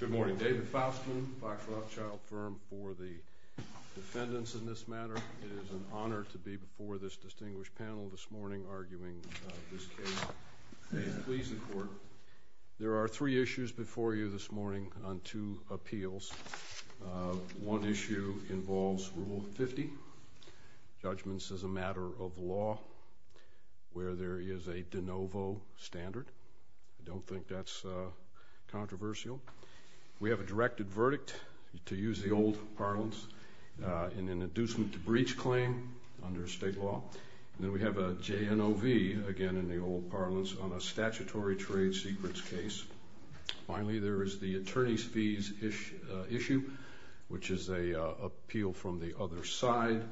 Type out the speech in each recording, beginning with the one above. Good morning. David Faustman, Fox Rothschild Firm, for the defendants in this matter. It is an honor to be before this distinguished panel this morning arguing this case. Please, the court, there are three issues before you this morning on two appeals. One issue involves Rule 50, judgments as a matter of law, where there is a de novo standard. I don't think that's controversial. We have a directed verdict, to use the old parlance, in an inducement to breach claim under state law. Then we have a JNOV, again in the old parlance, on a statutory trade secrets case. Finally, there is the attorney's fees issue, which is an appeal from the other side,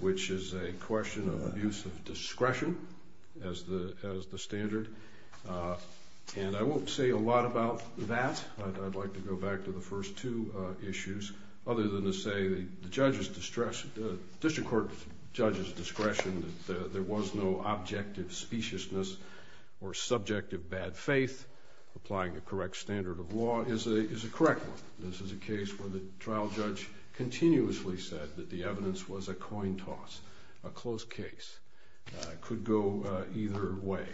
which is a question of abuse of discretion as the standard. And I won't say a lot about that. I'd like to go back to the first two issues, other than to say the judge's discretion, the district court judge's discretion, that there was no objective speciousness or subjective bad faith applying the correct standard of law is a correct one. This is a case where the attorney said that the evidence was a coin toss, a close case. It could go either way.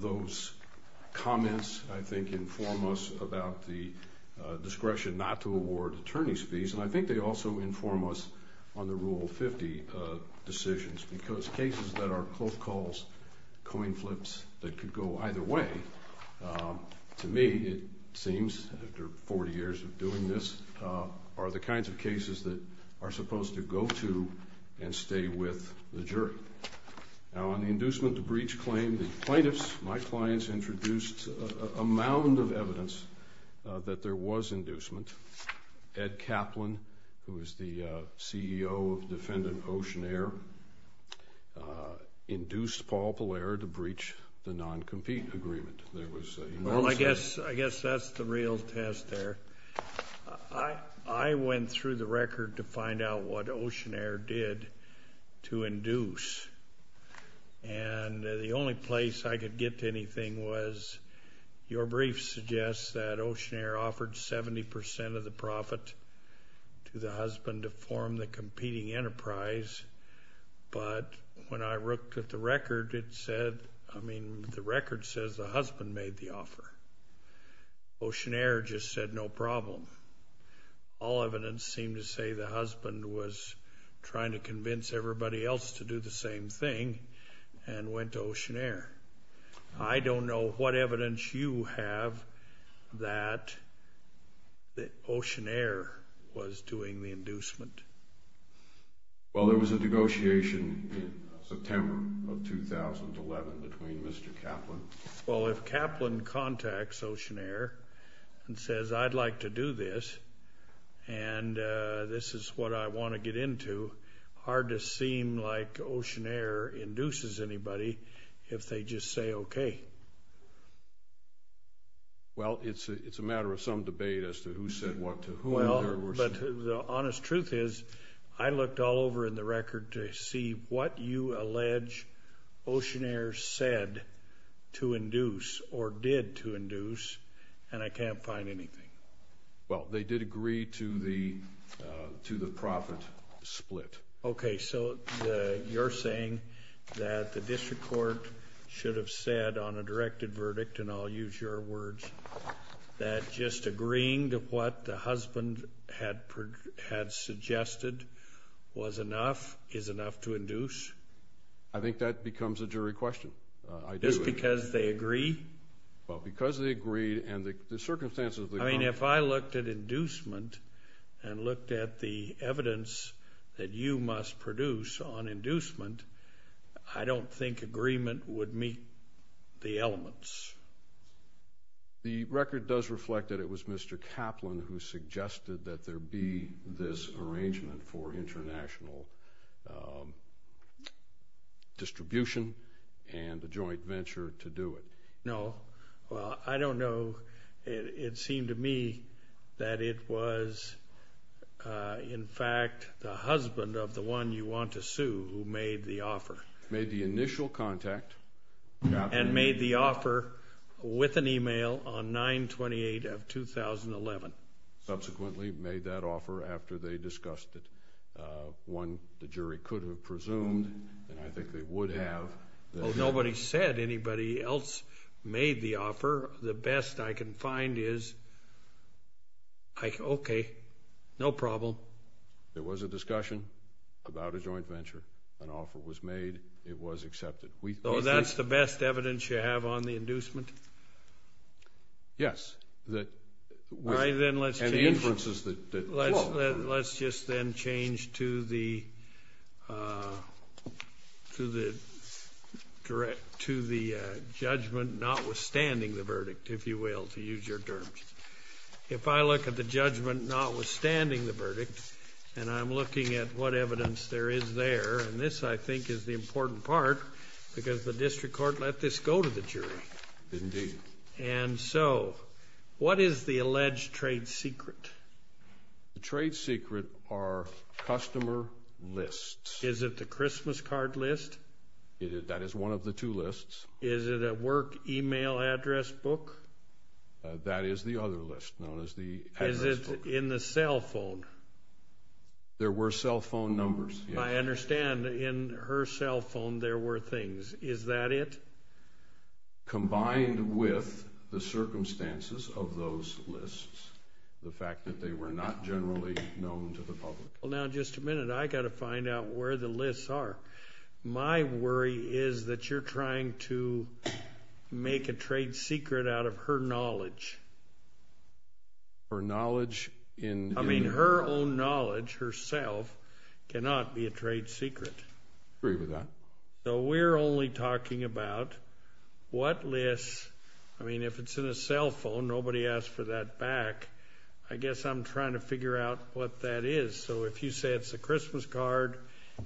Those comments, I think, inform us about the discretion not to award attorney's fees, and I think they also inform us on the Rule 50 decisions, because cases that are close calls, coin flips, that could go either way, to me, it seems, after 40 years of doing this, are the kinds of cases that are supposed to go to and stay with the jury. Now, on the inducement to breach claim, the plaintiffs, my clients, introduced a mound of evidence that there was inducement. Ed Kaplan, who is the CEO of Defendant Oceanair, induced Paul Pelaire to breach the non-compete agreement. Well, I guess that's the real test there. I went through the record to find out what Oceanair did to induce, and the only place I could get to anything was, your brief suggests that Oceanair offered 70% of the profit to the husband to form the competing enterprise, but when I looked at the record, it said, I mean, the record says the husband made the offer. Oceanair just said, no problem. All evidence seemed to say the husband was trying to convince everybody else to do the same thing, and went to Oceanair. I don't know what evidence you have that Oceanair was doing the inducement. Well, there was a negotiation in September of 2011 between Mr. Kaplan. Well, if Kaplan contacts Oceanair and says, I'd like to do this, and this is what I want to get into, hard to seem like Oceanair induces anybody if they just say, okay. Well, it's a matter of some debate as to who said what to whom. Well, but the honest truth is, I looked all over in the record to see what you allege Oceanair said to induce, or did to induce, and I can't find anything. Well, they did agree to the to the profit split. Okay, so you're saying that the district court should have said on a directed verdict, and I'll use your words, that just agreeing to what the husband had suggested was enough, is enough to induce? I think that becomes a jury question. Just because they agree? Well, because they agreed, and the circumstances... I mean, if I looked at inducement, and looked at the evidence that you must produce on inducement, I don't think the agreement would meet the elements. The record does reflect that it was Mr. Kaplan who suggested that there be this arrangement for international distribution and a joint venture to do it. No, well, I don't know. It seemed to me that it was, in fact, the husband of the one you want to sue who made the offer. Made the initial contact. And made the offer with an email on 9-28 of 2011. Subsequently, made that offer after they discussed it. One, the jury could have presumed, and I think they would have. Well, nobody said anybody else made the offer. The best I can find is, okay, no problem. There was a discussion about a joint venture, and it was accepted. So that's the best evidence you have on the inducement? Yes. And the inferences that follow. Let's just then change to the judgment notwithstanding the verdict, if you will, to use your terms. If I look at the judgment notwithstanding the verdict, and I'm looking at what evidence there is there, and this, I think, is the important part, because the district court let this go to the jury. Indeed. And so, what is the alleged trade secret? The trade secret are customer lists. Is it the Christmas card list? That is one of the two lists. Is it a work email address book? That is the other list known as the cell phone numbers. I understand. In her cell phone, there were things. Is that it? Combined with the circumstances of those lists, the fact that they were not generally known to the public. Well, now, just a minute. I got to find out where the lists are. My worry is that you're trying to make a trade secret out of her knowledge. Her knowledge? I mean, her own knowledge herself cannot be a trade secret. I agree with that. So, we're only talking about what lists, I mean, if it's in a cell phone, nobody asked for that back. I guess I'm trying to figure out what that is. So, if you say it's a Christmas card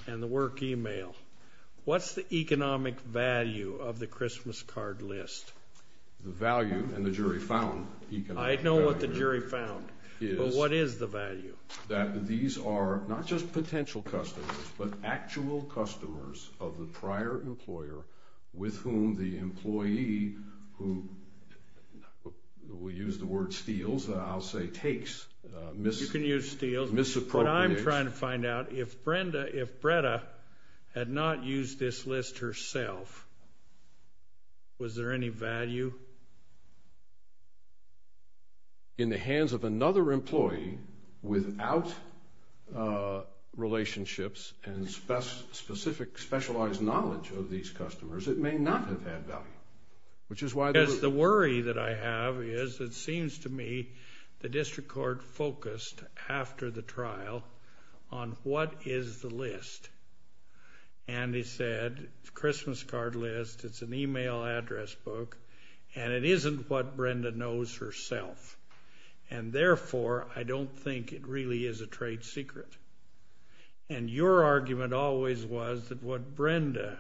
and the work email, what's the economic value of the Christmas card list? The value, and the jury found economic value. I know what the jury found, but what is the value? That these are not just potential customers, but actual customers of the prior employer with whom the employee, who we use the word steals, I'll say takes, misappropriates. You can use steals, but I'm trying to find out if Brenda, if Breda, had not used this list herself, was there any value? In the hands of another employee without relationships and specific, specialized knowledge of these customers, it may not have had value, which is why they were... The worry that I have is, it seems to me, the district court focused, after the trial, on what is the list. And they said, it's a Christmas card list, it's an email address book, and it isn't what Brenda knows herself. And, therefore, I don't think it really is a trade secret. And your argument always was that what Brenda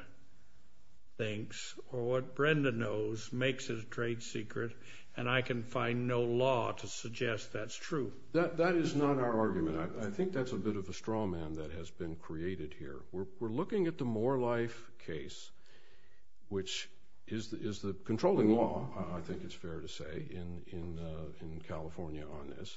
thinks, or what Brenda knows, makes it a trade secret, and I can find no law to suggest that's true. That is not our argument. I think that's a bit of a straw man that has been created here. We're looking at the More Life case, which is the controlling law, I think it's fair to say, in California on this,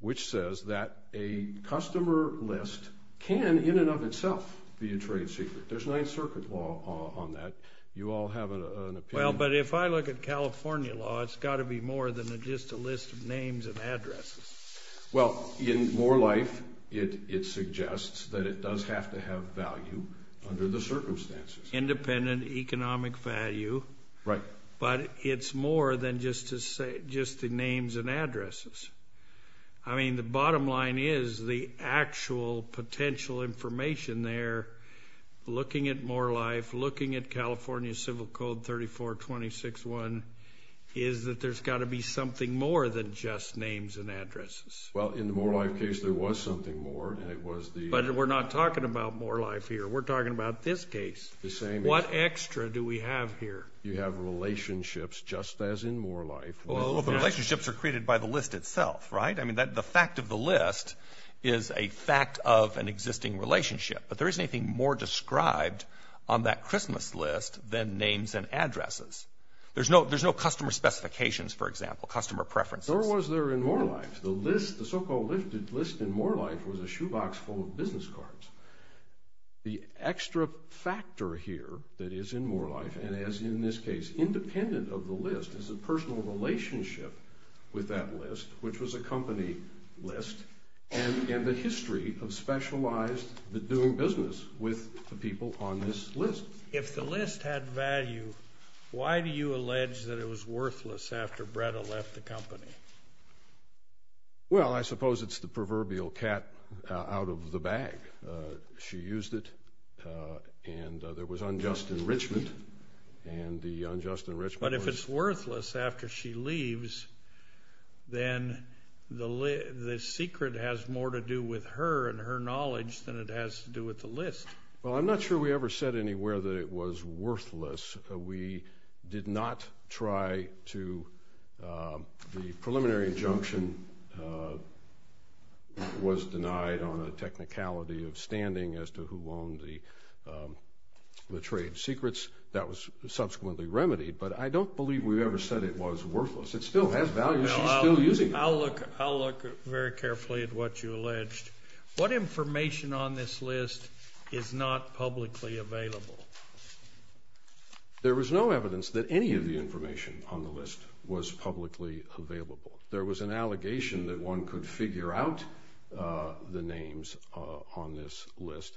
which says that a customer list can, in and of itself, be a trade secret. There's Ninth Circuit law on that. You all have an opinion. Well, but if I look at California law, it's got to be more than just a list of names and addresses. Well, in More Life, it suggests that it does have to have value under the circumstances. Independent economic value. Right. But it's more than just the names and addresses. I mean, the bottom line is, the actual potential information there, looking at More Life, looking at California Civil Code 3426-1, is that there's got to be something more than just names and addresses. Well, in the More Life case, there was something more, and it was the... But we're not talking about More Life here. We're talking about this case. The same... What extra do we have here? You have relationships, just as in More Life. Well, the relationships are created by the list itself, right? I mean, the fact of the list is a fact of an existing relationship. But there isn't anything more described on that Christmas list than names and addresses. There's no customer specifications, for example, customer preferences. Nor was there in More Life. The list, the so-called list in More Life, was a shoebox full of business cards. The extra factor here that is in More Life, and as in this case, independent of the list, is a personal relationship with that list, which was a company list, and the history of specialized doing business with the people on this list. If the list had value, why do you allege that it was worthless after Bretta left the company? Well, I suppose it's the proverbial cat out of the bag. She used it, and there was unjust enrichment, and the unjust enrichment... But if it's worthless after she leaves, then the secret has more to do with her and her knowledge than it has to do with the list. Well, I'm not sure we ever said anywhere that it was worthless. We did not try to... The preliminary injunction was denied on a technicality of standing as to who owned the trade secrets. That was subsequently remedied, but I don't believe we ever said it was worthless. It still has value. She's still using it. I'll look very carefully at what you alleged. What information on this list is not publicly available? There was no evidence that any of the information on the list was publicly available. There was an allegation that one could figure out the names on this list,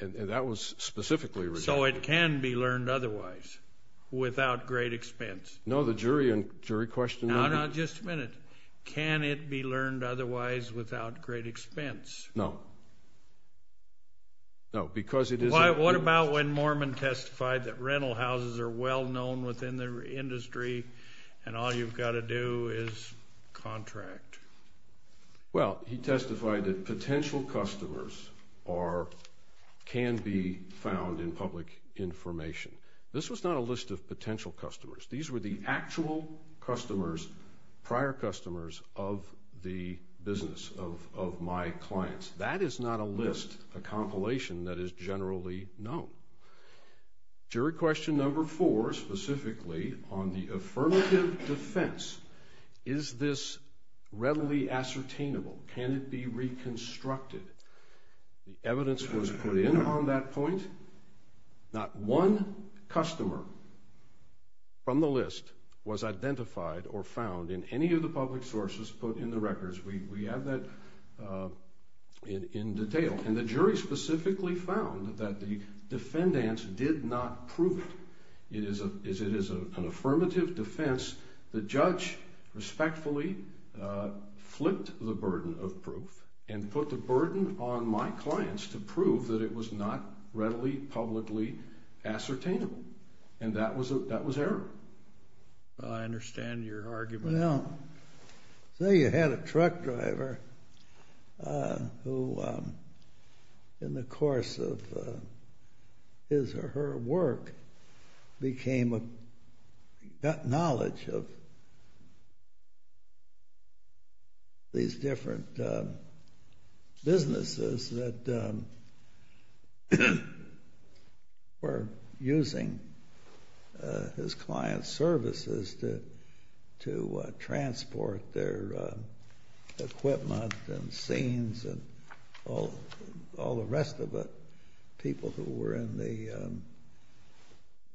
and that was specifically... So it can be learned otherwise without great expense. No, the jury question... No, no, just a minute. Can it be learned otherwise without great expense? No. No, because it is... What about when Mormon testified that rental houses are well-known within the industry and all you've got to do is contract? Well, he testified that potential customers can be found in public information. This was not a list of potential customers. These were the actual customers, prior customers of the business, of my clients. That is not a list, a compilation that is generally known. Jury question number four, specifically on the affirmative defense, is this readily ascertainable? Can it be reconstructed? The evidence was put in on that point. Not one customer from the list was identified or found in any of the public sources put in the records. We have that in detail. And the jury specifically found that the defendants did not prove it. It is an affirmative defense. The judge respectfully flipped the burden of proof and put the burden on my clients to prove that it was not readily publicly ascertainable. And that was error. I understand your argument. Well, say you had a truck driver who, in the course of his or her work, became, got knowledge of these different businesses that were using his client's services to transport their equipment and scenes and all the rest of it, people who were in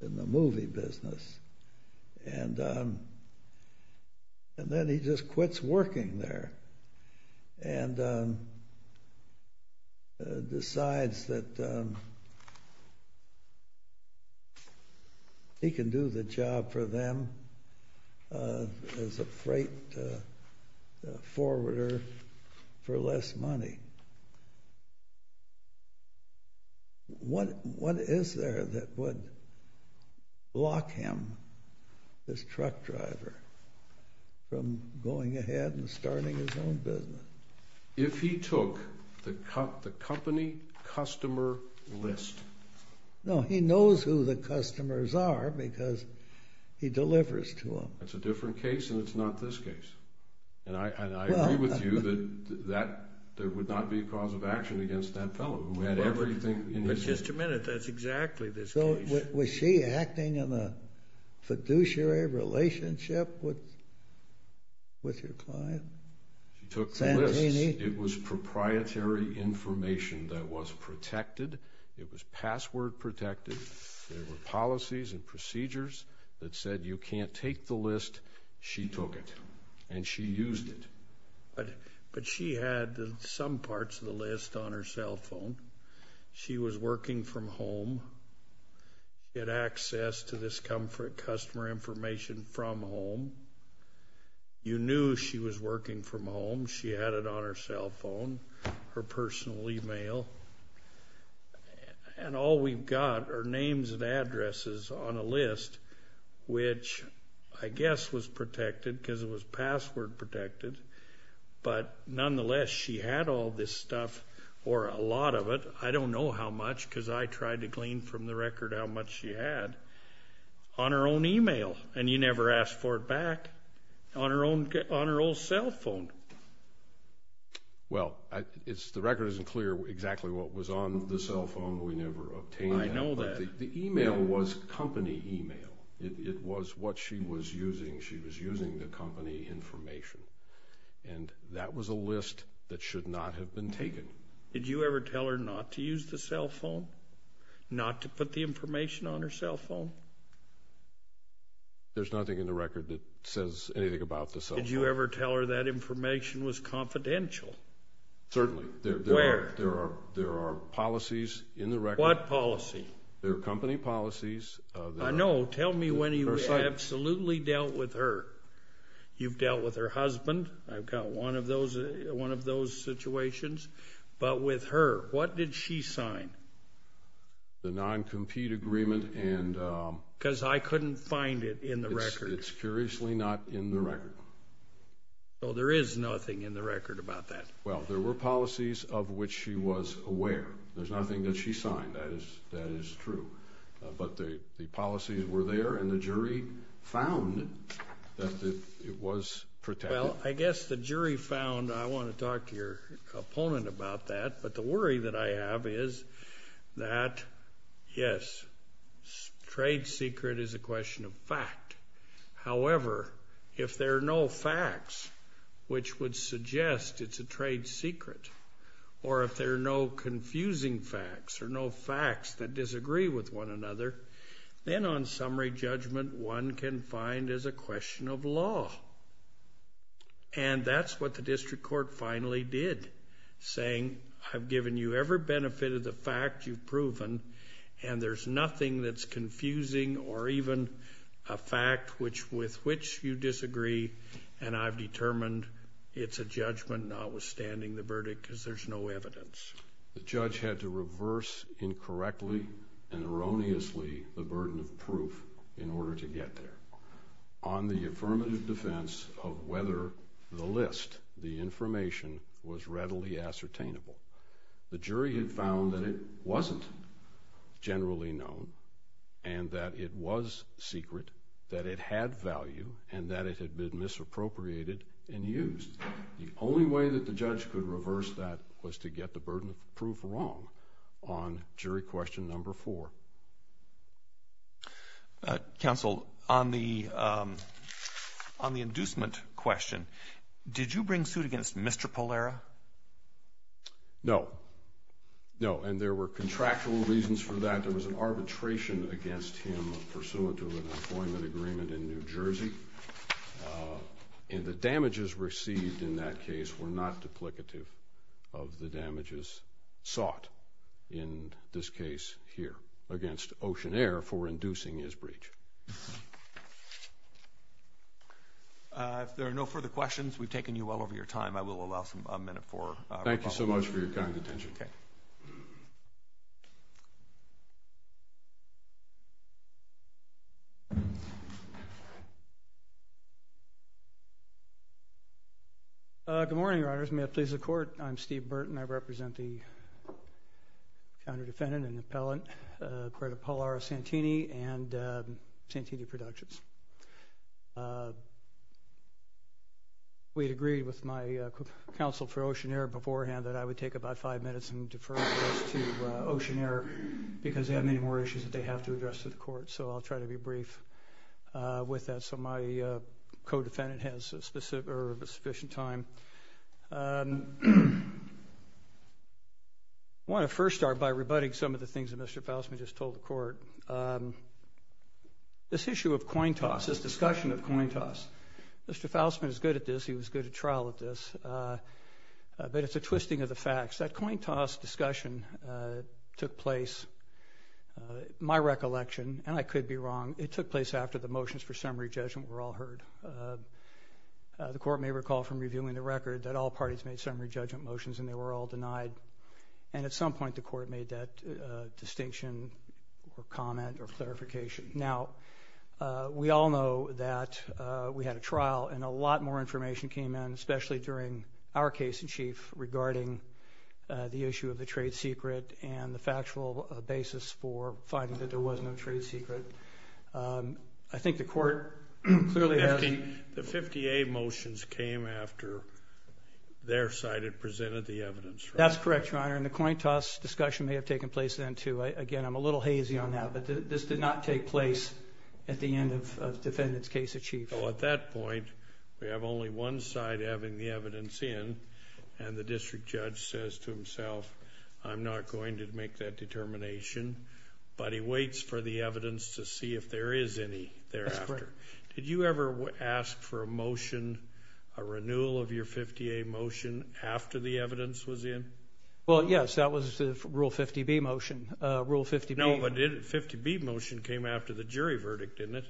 the movie business. And then he just quits working there and decides that he can do the job for them as a freight forwarder for less money. What is there that would block him, this truck driver, from going ahead and starting his own business? If he took the company customer list. No, he knows who the customers are because he delivers to them. That's a different case and it's not this case. And I agree with you that there would not be a cause of action against that fellow who had everything in his hands. But just a minute, that's exactly this case. So was she acting in a fiduciary relationship with your client? She took the list. It was proprietary information that was protected. It was password protected. And she used it. But she had some parts of the list on her cell phone. She was working from home. She had access to this customer information from home. You knew she was working from home. She had it on her cell phone, her personal email. And all we've got are names and addresses on a list, which I guess was protected because it was password protected. But nonetheless, she had all this stuff or a lot of it. I don't know how much because I tried to glean from the record how much she had on her own email. And you never asked for it back on her old cell phone. Well, the record isn't clear exactly what was on the cell phone. We never obtained that. I know that. The email was company email. It was what she was using. She was using the company information. And that was a list that should not have been taken. Did you ever tell her not to use the cell phone, not to put the information on her cell phone? There's nothing in the record that says anything about the cell phone. Did you ever tell her that information was confidential? Certainly. Where? There are policies in the record. What policy? There are company policies. I know. Tell me when you absolutely dealt with her. You've dealt with her husband. I've got one of those situations. But with her, what did she sign? The non-compete agreement. Because I couldn't find it in the record. It's curiously not in the record. So there is nothing in the record about that. Well, there were policies of which she was aware. There's nothing that she signed. That is true. But the policies were there, and the jury found that it was protected. Well, I guess the jury found that. I want to talk to your opponent about that. But the worry that I have is that, yes, trade secret is a question of fact. However, if there are no facts which would suggest it's a trade secret, or if there are no confusing facts or no facts that disagree with one another, then on summary judgment one can find as a question of law. And that's what the district court finally did, saying I've given you every benefit of the fact you've proven, and there's nothing that's confusing or even a fact with which you disagree, and I've determined it's a judgment notwithstanding the verdict because there's no evidence. The judge had to reverse incorrectly and erroneously the burden of proof in order to get there. On the affirmative defense of whether the list, the information, was readily ascertainable, the jury had found that it wasn't generally known and that it was secret, that it had value, and that it had been misappropriated and used. The only way that the judge could reverse that was to get the burden of proof wrong on jury question number four. Counsel, on the inducement question, did you bring suit against Mr. Polera? No. No, and there were contractual reasons for that. There was an arbitration against him pursuant to an appointment agreement in New Jersey, and the damages received in that case were not duplicative of the damages sought in this case here against Ocean Air for inducing his breach. If there are no further questions, we've taken you well over your time. I will allow a minute for rebuttal. Thank you so much for your kind attention. Okay. Good morning, Your Honors. May it please the Court, I'm Steve Burton. I represent the counter-defendant and appellant acquitted of Polera Santini and Santini Productions. We had agreed with my counsel for Ocean Air beforehand that I would take about five minutes and defer to Ocean Air because they have many more issues that they have to address to the Court, so I'll try to be brief with that so my co-defendant has sufficient time. I want to first start by rebutting some of the things that Mr. Faustman just told the Court. This issue of coin toss, this discussion of coin toss, Mr. Faustman is good at this. He was good at trial at this. But it's a twisting of the facts. That coin toss discussion took place, my recollection, and I could be wrong, it took place after the motions for summary judgment were all heard. The Court may recall from reviewing the record that all parties made summary judgment motions and they were all denied. And at some point the Court made that distinction or comment or clarification. Now, we all know that we had a trial and a lot more information came in, especially during our case in chief regarding the issue of the trade secret and the factual basis for finding that there was no trade secret. I think the Court clearly has the 50A motions came after their side had presented the evidence. That's correct, Your Honor, and the coin toss discussion may have taken place then too. Again, I'm a little hazy on that, but this did not take place at the end of the defendant's case in chief. So at that point, we have only one side having the evidence in, and the district judge says to himself, I'm not going to make that determination. But he waits for the evidence to see if there is any thereafter. That's correct. Did you ever ask for a motion, a renewal of your 50A motion after the evidence was in? Well, yes, that was the Rule 50B motion. Rule 50B. No, but the 50B motion came after the jury verdict, didn't it?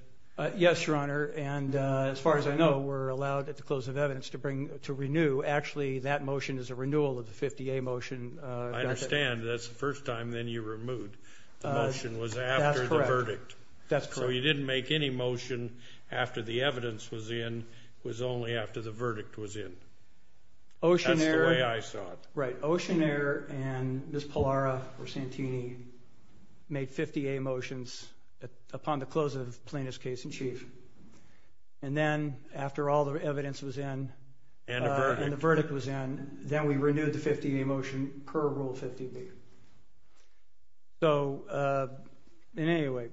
Yes, Your Honor, and as far as I know, we're allowed at the close of evidence to renew. Actually, that motion is a renewal of the 50A motion. I understand. That's the first time then you removed the motion was after the verdict. That's correct. So you didn't make any motion after the evidence was in. It was only after the verdict was in. That's the way I saw it. Right. The Oceanair and Ms. Pallara or Santini made 50A motions upon the close of Plaintiff's case in chief. And then after all the evidence was in and the verdict was in, then we renewed the 50A motion per Rule 50B. So anyway.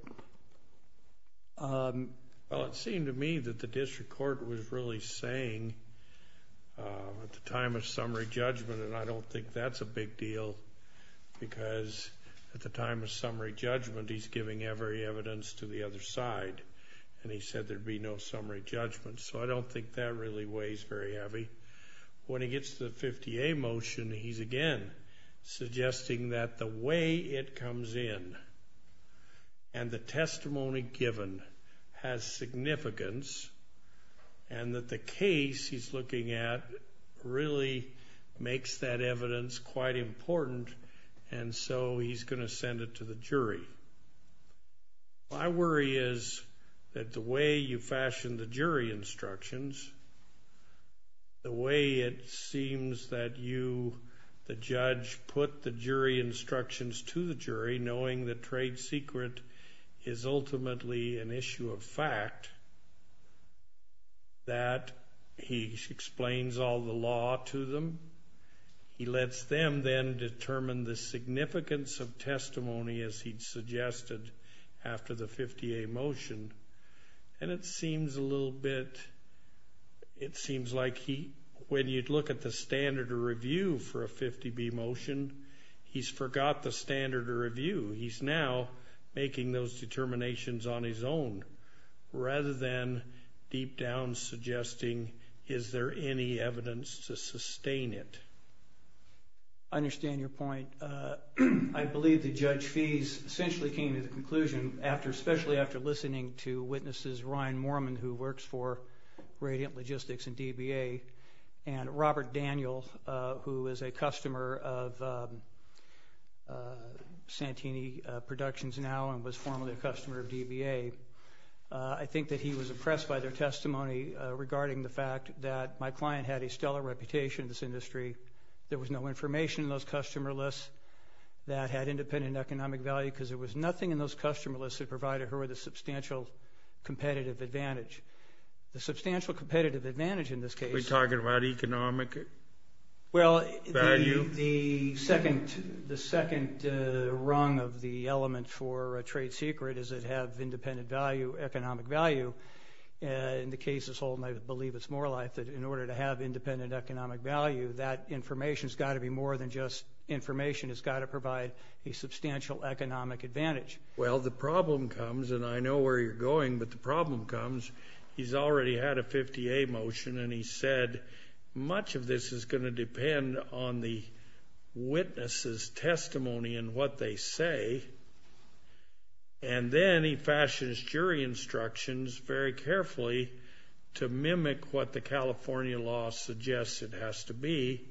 Well, it seemed to me that the district court was really saying at the time of summary judgment, and I don't think that's a big deal because at the time of summary judgment, he's giving every evidence to the other side, and he said there'd be no summary judgment. So I don't think that really weighs very heavy. When he gets to the 50A motion, he's again suggesting that the way it comes in and the testimony given has significance and that the case he's looking at really makes that evidence quite important, and so he's going to send it to the jury. My worry is that the way you fashioned the jury instructions, the way it seems that you, the judge, put the jury instructions to the jury, knowing that trade secret is ultimately an issue of fact, that he explains all the law to them. He lets them then determine the significance of testimony, as he'd suggested after the 50A motion, and it seems a little bit, it seems like he, when you'd look at the standard of review for a 50B motion, he's forgot the standard of review. He's now making those determinations on his own rather than deep down suggesting, is there any evidence to sustain it? I understand your point. I believe that Judge Feese essentially came to the conclusion, especially after listening to witnesses, Ryan Moorman, who works for Radiant Logistics and DBA, and Robert Daniel, who is a customer of Santini Productions now and was formerly a customer of DBA. I think that he was impressed by their testimony regarding the fact that my client had a stellar reputation in this industry. There was no information in those customer lists that had independent economic value because there was nothing in those customer lists that provided her with a substantial competitive advantage. The substantial competitive advantage in this case… Are we talking about economic value? Well, the second rung of the element for a trade secret is it have independent value, economic value. In the case of Holden, I believe it's Morelife, that in order to have independent economic value, that information has got to be more than just information. It's got to provide a substantial economic advantage. Well, the problem comes, and I know where you're going, but the problem comes… He's already had a 50-A motion, and he said, much of this is going to depend on the witness's testimony and what they say. And then he fashions jury instructions very carefully to mimic what the California law suggests it has to be.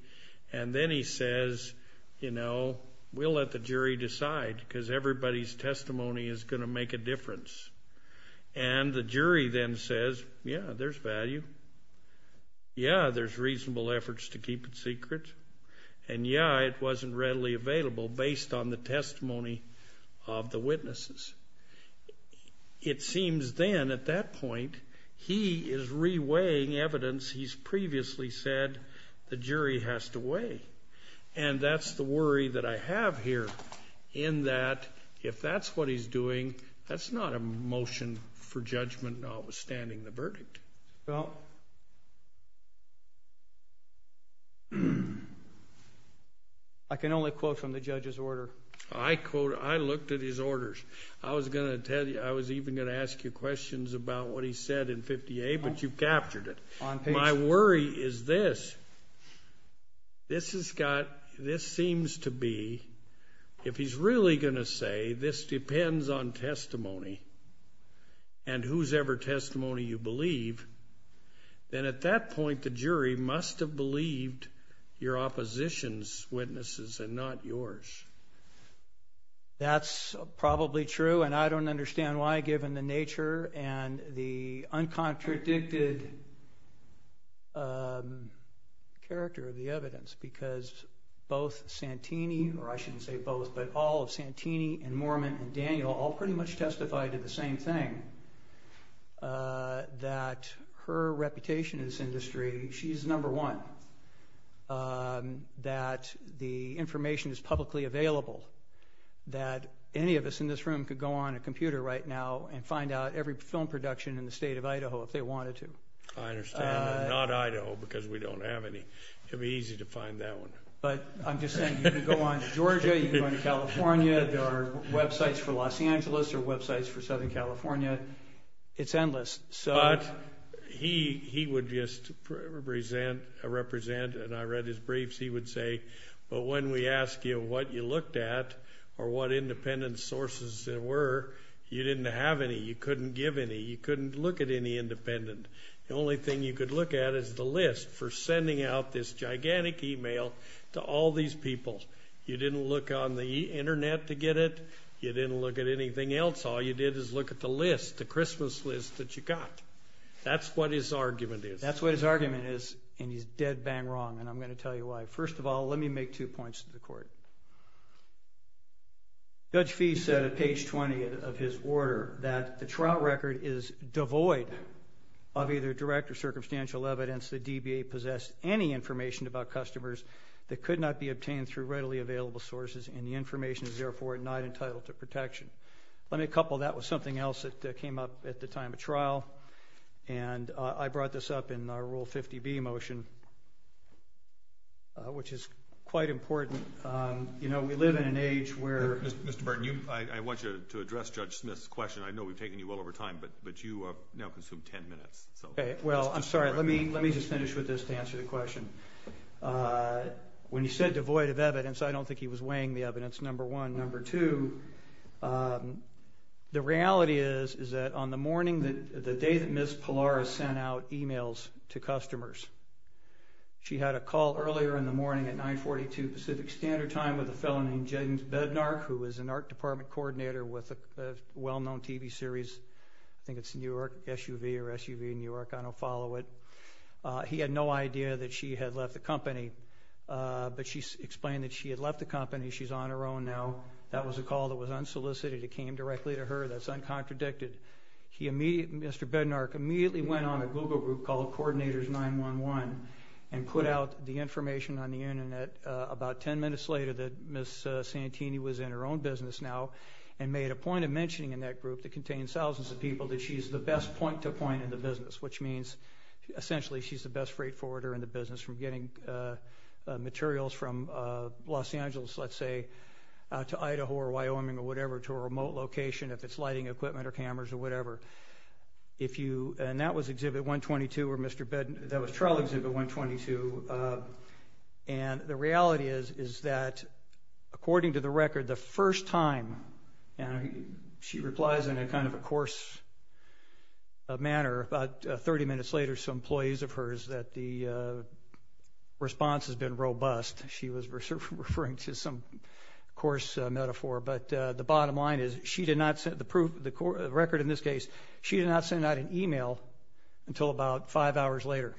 And then he says, you know, we'll let the jury decide because everybody's testimony is going to make a difference. And the jury then says, yeah, there's value. Yeah, there's reasonable efforts to keep it secret. And yeah, it wasn't readily available based on the testimony of the witnesses. It seems then at that point he is reweighing evidence he's previously said the jury has to weigh. And that's the worry that I have here in that if that's what he's doing, that's not a motion for judgment notwithstanding the verdict. Well, I can only quote from the judge's order. I looked at his orders. I was even going to ask you questions about what he said in 50-A, but you've captured it. My worry is this. This seems to be, if he's really going to say this depends on testimony and whosever testimony you believe, then at that point the jury must have believed your opposition's witnesses and not yours. That's probably true, and I don't understand why, given the nature and the uncontradicted character of the evidence, because both Santini, or I shouldn't say both, but all of Santini and Mormon and Daniel all pretty much testified to the same thing, that her reputation in this industry, she's number one, that the information is publicly available, that any of us in this room could go on a computer right now and find out every film production in the state of Idaho if they wanted to. I understand. Not Idaho, because we don't have any. It would be easy to find that one. But I'm just saying you can go on to Georgia. You can go on to California. There are websites for Los Angeles. There are websites for Southern California. It's endless. But he would just represent, and I read his briefs, he would say, but when we asked you what you looked at or what independent sources there were, you didn't have any. You couldn't give any. You couldn't look at any independent. The only thing you could look at is the list for sending out this gigantic email to all these people. You didn't look on the Internet to get it. You didn't look at anything else. All you did is look at the list, the Christmas list that you got. That's what his argument is. That's what his argument is, and he's dead bang wrong, and I'm going to tell you why. First of all, let me make two points to the Court. Judge Fee said at page 20 of his order that the trial record is devoid of either direct or circumstantial evidence that DBA possessed any information about customers that could not be obtained through readily available sources, and the information is, therefore, not entitled to protection. Let me couple that with something else that came up at the time of trial, and I brought this up in our Rule 50B motion, which is quite important. You know, we live in an age where Mr. Burton, I want you to address Judge Smith's question. I know we've taken you well over time, but you now consume 10 minutes. Well, I'm sorry. Let me just finish with this to answer the question. When he said devoid of evidence, I don't think he was weighing the evidence, number one. Number two, the reality is that on the morning, the day that Ms. Pallara sent out emails to customers, she had a call earlier in the morning at 942 Pacific Standard Time with a fellow named James Bednark, who is an art department coordinator with a well-known TV series. I think it's New York SUV or SUV New York. I don't follow it. He had no idea that she had left the company, but she explained that she had left the company. She's on her own now. That was a call that was unsolicited. It came directly to her. That's uncontradicted. Mr. Bednark immediately went on a Google group called Coordinators 911 and put out the information on the Internet about 10 minutes later that Ms. Santini was in her own business now and made a point of mentioning in that group that contains thousands of people that she's the best point-to-point in the business, which means essentially she's the best freight forwarder in the business from getting materials from Los Angeles, let's say, to Idaho or Wyoming or whatever to a remote location if it's lighting equipment or cameras or whatever. And that was Exhibit 122 where Mr. Bednark – that was trial Exhibit 122. And the reality is is that according to the record, the first time she replies in a kind of a coarse manner, about 30 minutes later some employees of hers that the response has been robust. She was referring to some coarse metaphor. But the bottom line is she did not – the record in this case, she did not send out an e-mail until about five hours later.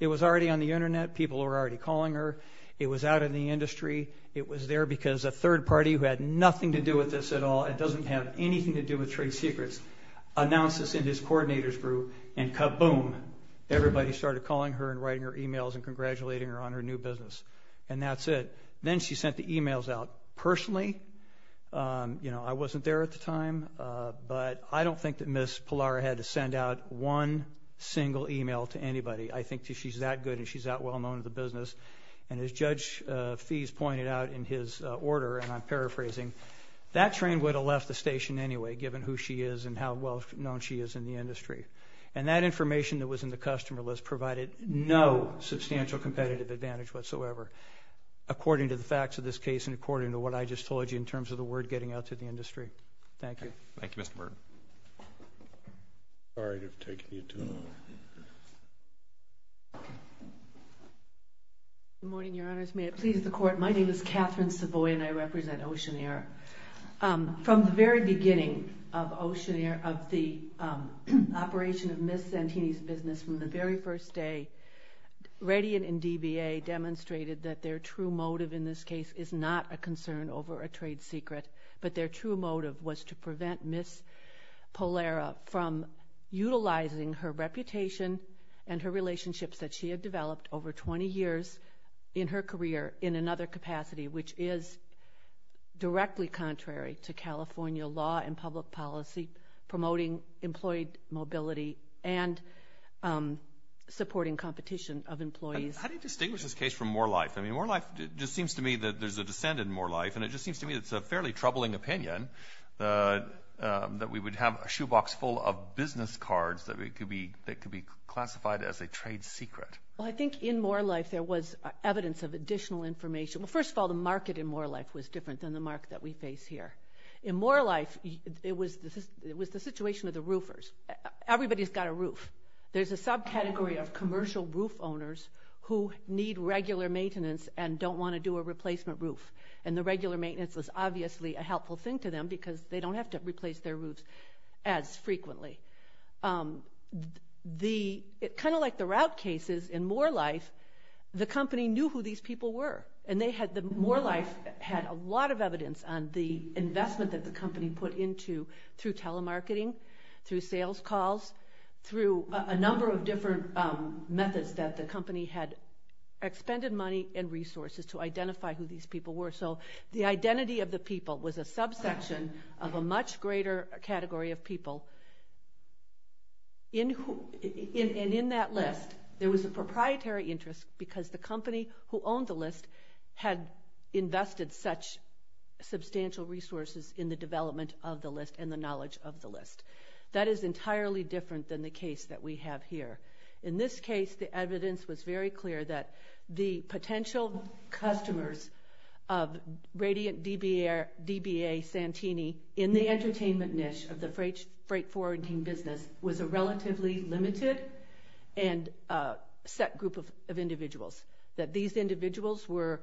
It was already on the Internet. People were already calling her. It was out in the industry. It was there because a third party who had nothing to do with this at all and doesn't have anything to do with trade secrets announced this in his coordinators group, and kaboom, everybody started calling her and writing her e-mails and congratulating her on her new business. And that's it. Then she sent the e-mails out personally. You know, I wasn't there at the time. But I don't think that Ms. Pallara had to send out one single e-mail to anybody. I think she's that good and she's that well-known in the business. And as Judge Fies pointed out in his order, and I'm paraphrasing, that train would have left the station anyway given who she is and how well-known she is in the industry. And that information that was in the customer list provided no substantial competitive advantage whatsoever. According to the facts of this case and according to what I just told you in terms of the word getting out to the industry. Thank you. Thank you, Mr. Burton. Sorry to have taken you too long. Good morning, Your Honors. May it please the Court, my name is Catherine Savoy and I represent Oceaneer. From the very beginning of the operation of Ms. Santini's business from the very first day, Radian and DBA demonstrated that their true motive in this case is not a concern over a trade secret, but their true motive was to prevent Ms. Pallara from utilizing her reputation and her relationships that she had developed over 20 years in her career in another capacity, which is directly contrary to California law and public policy, promoting employee mobility and supporting competition of employees. How do you distinguish this case from Moore Life? I mean, Moore Life just seems to me that there's a descent in Moore Life, and it just seems to me it's a fairly troubling opinion that we would have a shoebox full of business cards that could be classified as a trade secret. Well, I think in Moore Life there was evidence of additional information. Well, first of all, the market in Moore Life was different than the market that we face here. In Moore Life it was the situation of the roofers. Everybody's got a roof. There's a subcategory of commercial roof owners who need regular maintenance and don't want to do a replacement roof, and the regular maintenance is obviously a helpful thing to them because they don't have to replace their roofs as frequently. Kind of like the route cases in Moore Life, the company knew who these people were, and the Moore Life had a lot of evidence on the investment that the company put into through telemarketing, through sales calls, through a number of different methods that the company had expended money and resources to identify who these people were. So the identity of the people was a subsection of a much greater category of people. And in that list there was a proprietary interest because the company who owned the list had invested such substantial resources in the development of the list and the knowledge of the list. That is entirely different than the case that we have here. In this case the evidence was very clear that the potential customers of Radiant DBA Santini in the entertainment niche of the freight forwarding business was a relatively limited and set group of individuals. That these individuals were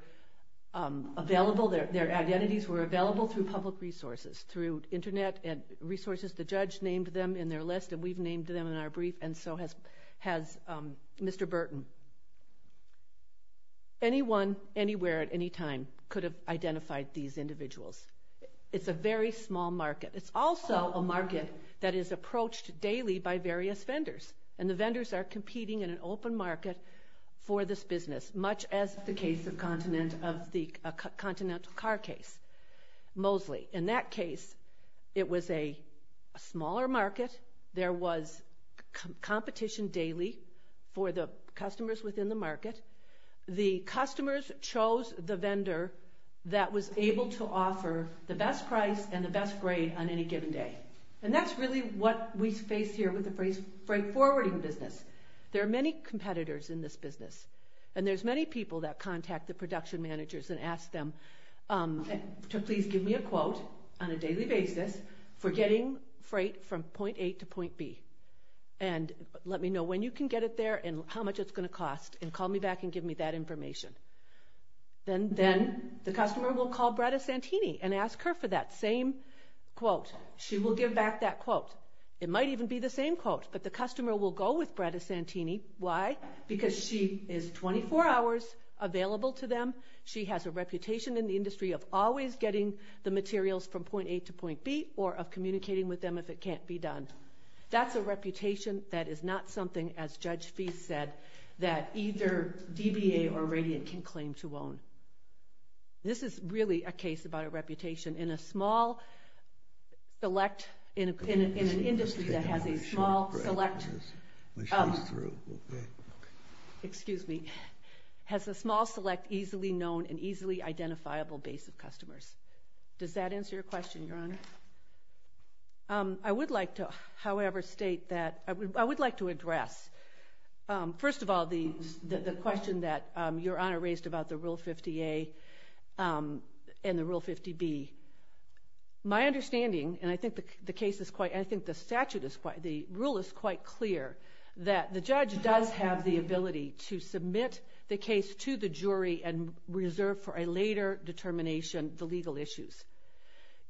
available, their identities were available through public resources, through Internet resources. The judge named them in their list and we've named them in our brief, and so has Mr. Burton. Anyone, anywhere, at any time could have identified these individuals. It's a very small market. It's also a market that is approached daily by various vendors. And the vendors are competing in an open market for this business, much as the case of the Continental Car case, Mosley. In that case it was a smaller market. There was competition daily for the customers within the market. And the customers chose the vendor that was able to offer the best price and the best grade on any given day. And that's really what we face here with the freight forwarding business. There are many competitors in this business, and there's many people that contact the production managers and ask them to please give me a quote on a daily basis for getting freight from point A to point B. And let me know when you can get it there and how much it's going to cost and call me back and give me that information. Then the customer will call Bretta Santini and ask her for that same quote. She will give back that quote. It might even be the same quote, but the customer will go with Bretta Santini. Why? Because she is 24 hours available to them. She has a reputation in the industry of always getting the materials from point A to point B or of communicating with them if it can't be done. That's a reputation that is not something, as Judge Feist said, that either DBA or Radiant can claim to own. This is really a case about a reputation in a small, select, in an industry that has a small, select, excuse me, has a small, select, easily known and easily identifiable base of customers. Does that answer your question, Your Honor? I would like to, however, state that I would like to address, first of all, the question that Your Honor raised about the Rule 50A and the Rule 50B. My understanding, and I think the rule is quite clear, that the judge does have the ability to submit the case to the jury and reserve for a later determination the legal issues.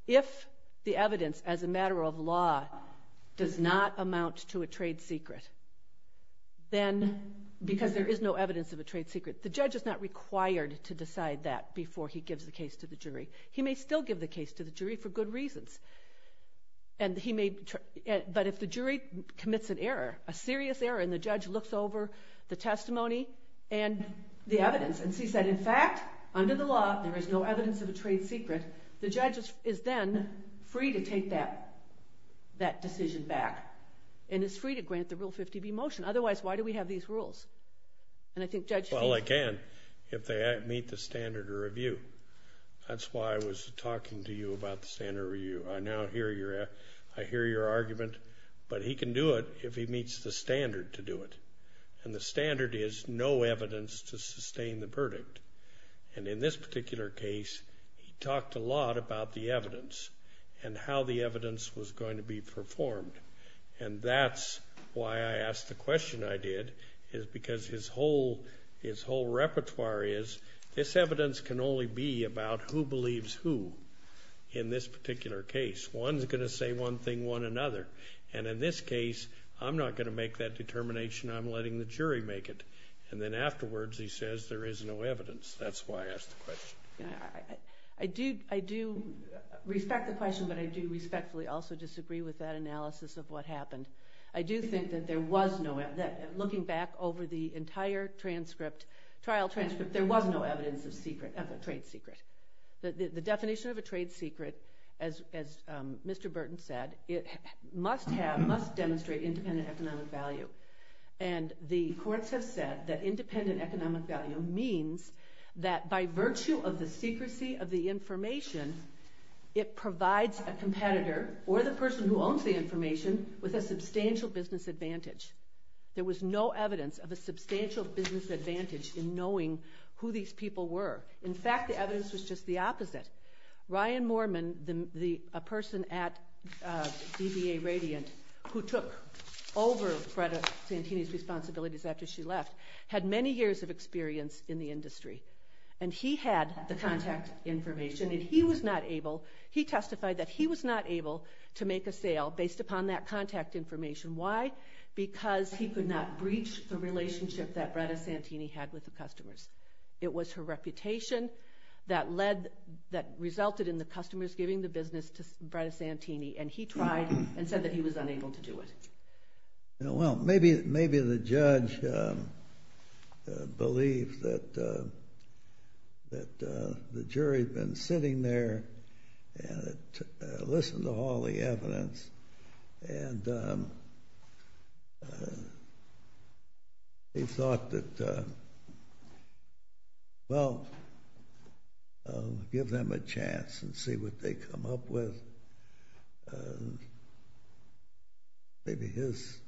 If the evidence, as a matter of law, does not amount to a trade secret, then because there is no evidence of a trade secret, the judge is not required to decide that before he gives the case to the jury. He may still give the case to the jury for good reasons, but if the jury commits an error, a serious error, and the judge looks over the testimony and the evidence and sees that, in fact, under the law there is no evidence of a trade secret, the judge is then free to take that decision back and is free to grant the Rule 50B motion. Otherwise, why do we have these rules? Well, again, if they meet the standard of review. That's why I was talking to you about the standard of review. I now hear your argument, but he can do it if he meets the standard to do it. And the standard is no evidence to sustain the verdict. And in this particular case, he talked a lot about the evidence and how the evidence was going to be performed. And that's why I asked the question I did is because his whole repertoire is this evidence can only be about who believes who in this particular case. One's going to say one thing, one another. And in this case, I'm not going to make that determination. I'm letting the jury make it. And then afterwards he says there is no evidence. That's why I asked the question. I do respect the question, but I do respectfully also disagree with that analysis of what happened. I do think that there was no evidence. Looking back over the entire trial transcript, there was no evidence of a trade secret. The definition of a trade secret, as Mr. Burton said, must demonstrate independent economic value. And the courts have said that independent economic value means that by virtue of the secrecy of the information, it provides a competitor or the person who owns the information with a substantial business advantage. There was no evidence of a substantial business advantage in knowing who these people were. In fact, the evidence was just the opposite. Ryan Moorman, a person at DBA Radiant who took over Bretta Santini's responsibilities after she left, had many years of experience in the industry. And he had the contact information. He testified that he was not able to make a sale based upon that contact information. Why? Because he could not breach the relationship that Bretta Santini had with the customers. It was her reputation that resulted in the customers giving the business to Bretta Santini. And he tried and said that he was unable to do it. Well, maybe the judge believed that the jury had been sitting there and had listened to all the evidence and he thought that, well, give them a chance and see what they come up with. Maybe his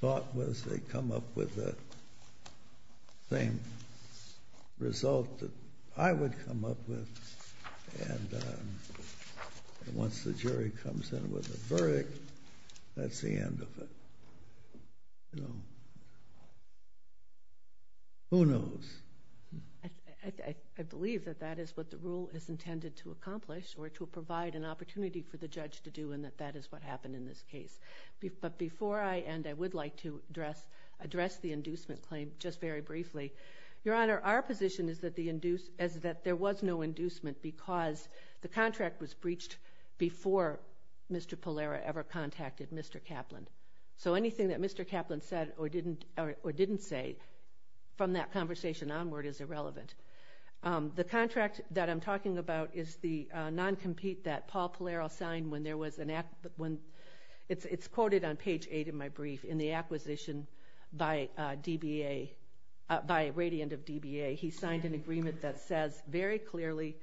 thought was they come up with the same result that I would come up with. And once the jury comes in with a verdict, that's the end of it. Who knows? I believe that that is what the rule is intended to accomplish or to provide an opportunity for the judge to do and that that is what happened in this case. But before I end, I would like to address the inducement claim just very briefly. Your Honor, our position is that there was no inducement because the contract was breached before Mr. Pallaro ever contacted Mr. Kaplan. So anything that Mr. Kaplan said or didn't say from that conversation onward is irrelevant. The contract that I'm talking about is the non-compete that Paul Pallaro signed when there was an act... It's quoted on page 8 of my brief in the acquisition by a radiant of DBA. He signed an agreement that says very clearly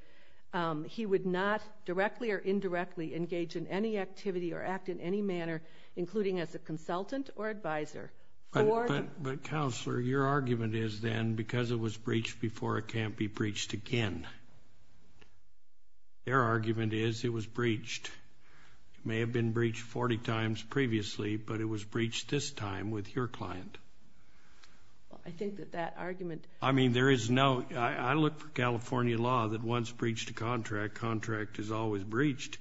he would not directly or indirectly engage in any activity or act in any manner, including as a consultant or advisor... But, Counselor, your argument is then because it was breached before, it can't be breached again. Their argument is it was breached. It may have been breached 40 times previously, but it was breached this time with your client. I think that that argument... I mean, there is no... I look for California law that once breached a contract, contract is always breached.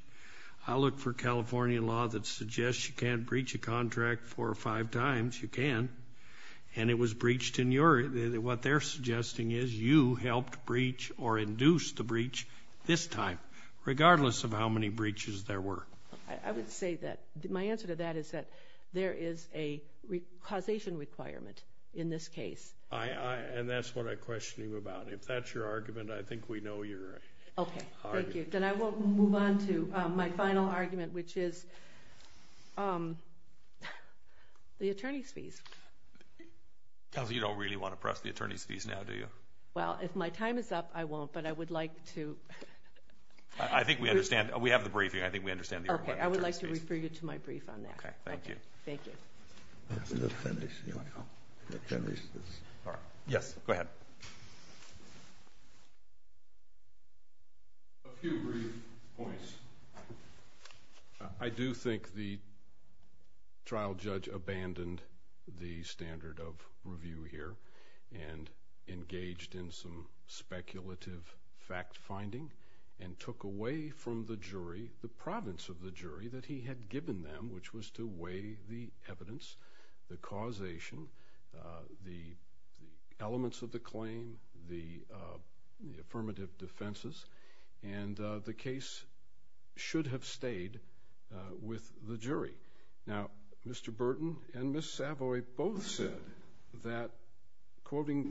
I look for California law that suggests you can't breach a contract 4 or 5 times. You can, and it was breached in your... What they're suggesting is you helped breach or induced the breach this time, regardless of how many breaches there were. I would say that my answer to that is that there is a causation requirement in this case. And that's what I question you about. If that's your argument, I think we know your argument. Okay, thank you. Then I will move on to my final argument, which is the attorney's fees. Counsel, you don't really want to press the attorney's fees now, do you? Well, if my time is up, I won't, but I would like to... I think we understand. We have the briefing. I think we understand the attorney's fees. Okay, I would like to refer you to my brief on that. Okay, thank you. Thank you. Let me finish, you know. Let me finish this. Yes, go ahead. A few brief points. I do think the trial judge abandoned the standard of review here and engaged in some speculative fact-finding and took away from the jury the province of the jury that he had given them, which was to weigh the evidence, the causation, the elements of the claim, the affirmative defenses, and the case should have stayed with the jury. Now, Mr. Burton and Ms. Savoy both said that, quoting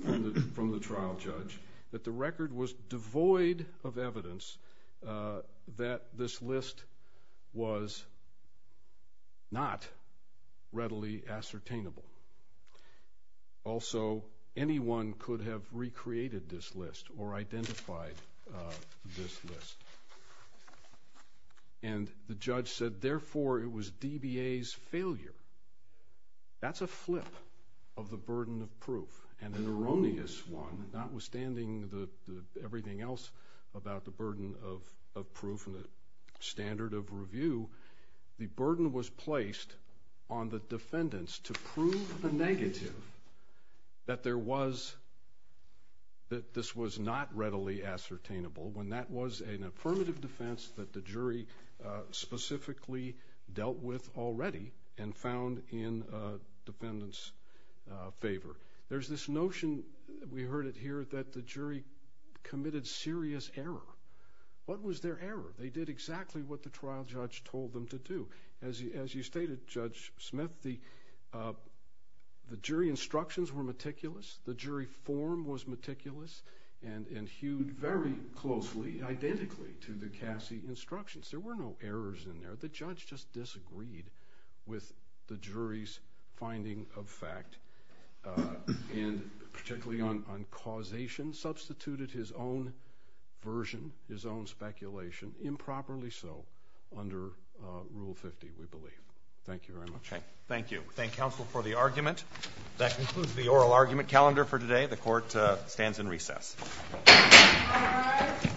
from the trial judge, that the record was devoid of evidence that this list was not readily ascertainable. Also, anyone could have recreated this list or identified this list. And the judge said, therefore, it was DBA's failure. That's a flip of the burden of proof, and an erroneous one, notwithstanding everything else about the burden of proof and the standard of review. The burden was placed on the defendants to prove the negative that there was, that this was not readily ascertainable, when that was an affirmative defense and found in defendants' favor. There's this notion, we heard it here, that the jury committed serious error. What was their error? They did exactly what the trial judge told them to do. As you stated, Judge Smith, the jury instructions were meticulous, the jury form was meticulous, and hewed very closely, identically, to the Cassie instructions. The judge just disagreed with the jury's finding of fact and particularly on causation, substituted his own version, his own speculation, improperly so, under Rule 50, we believe. Thank you very much. Okay, thank you. Thank counsel for the argument. That concludes the oral argument calendar for today. The court stands in recess. All rise.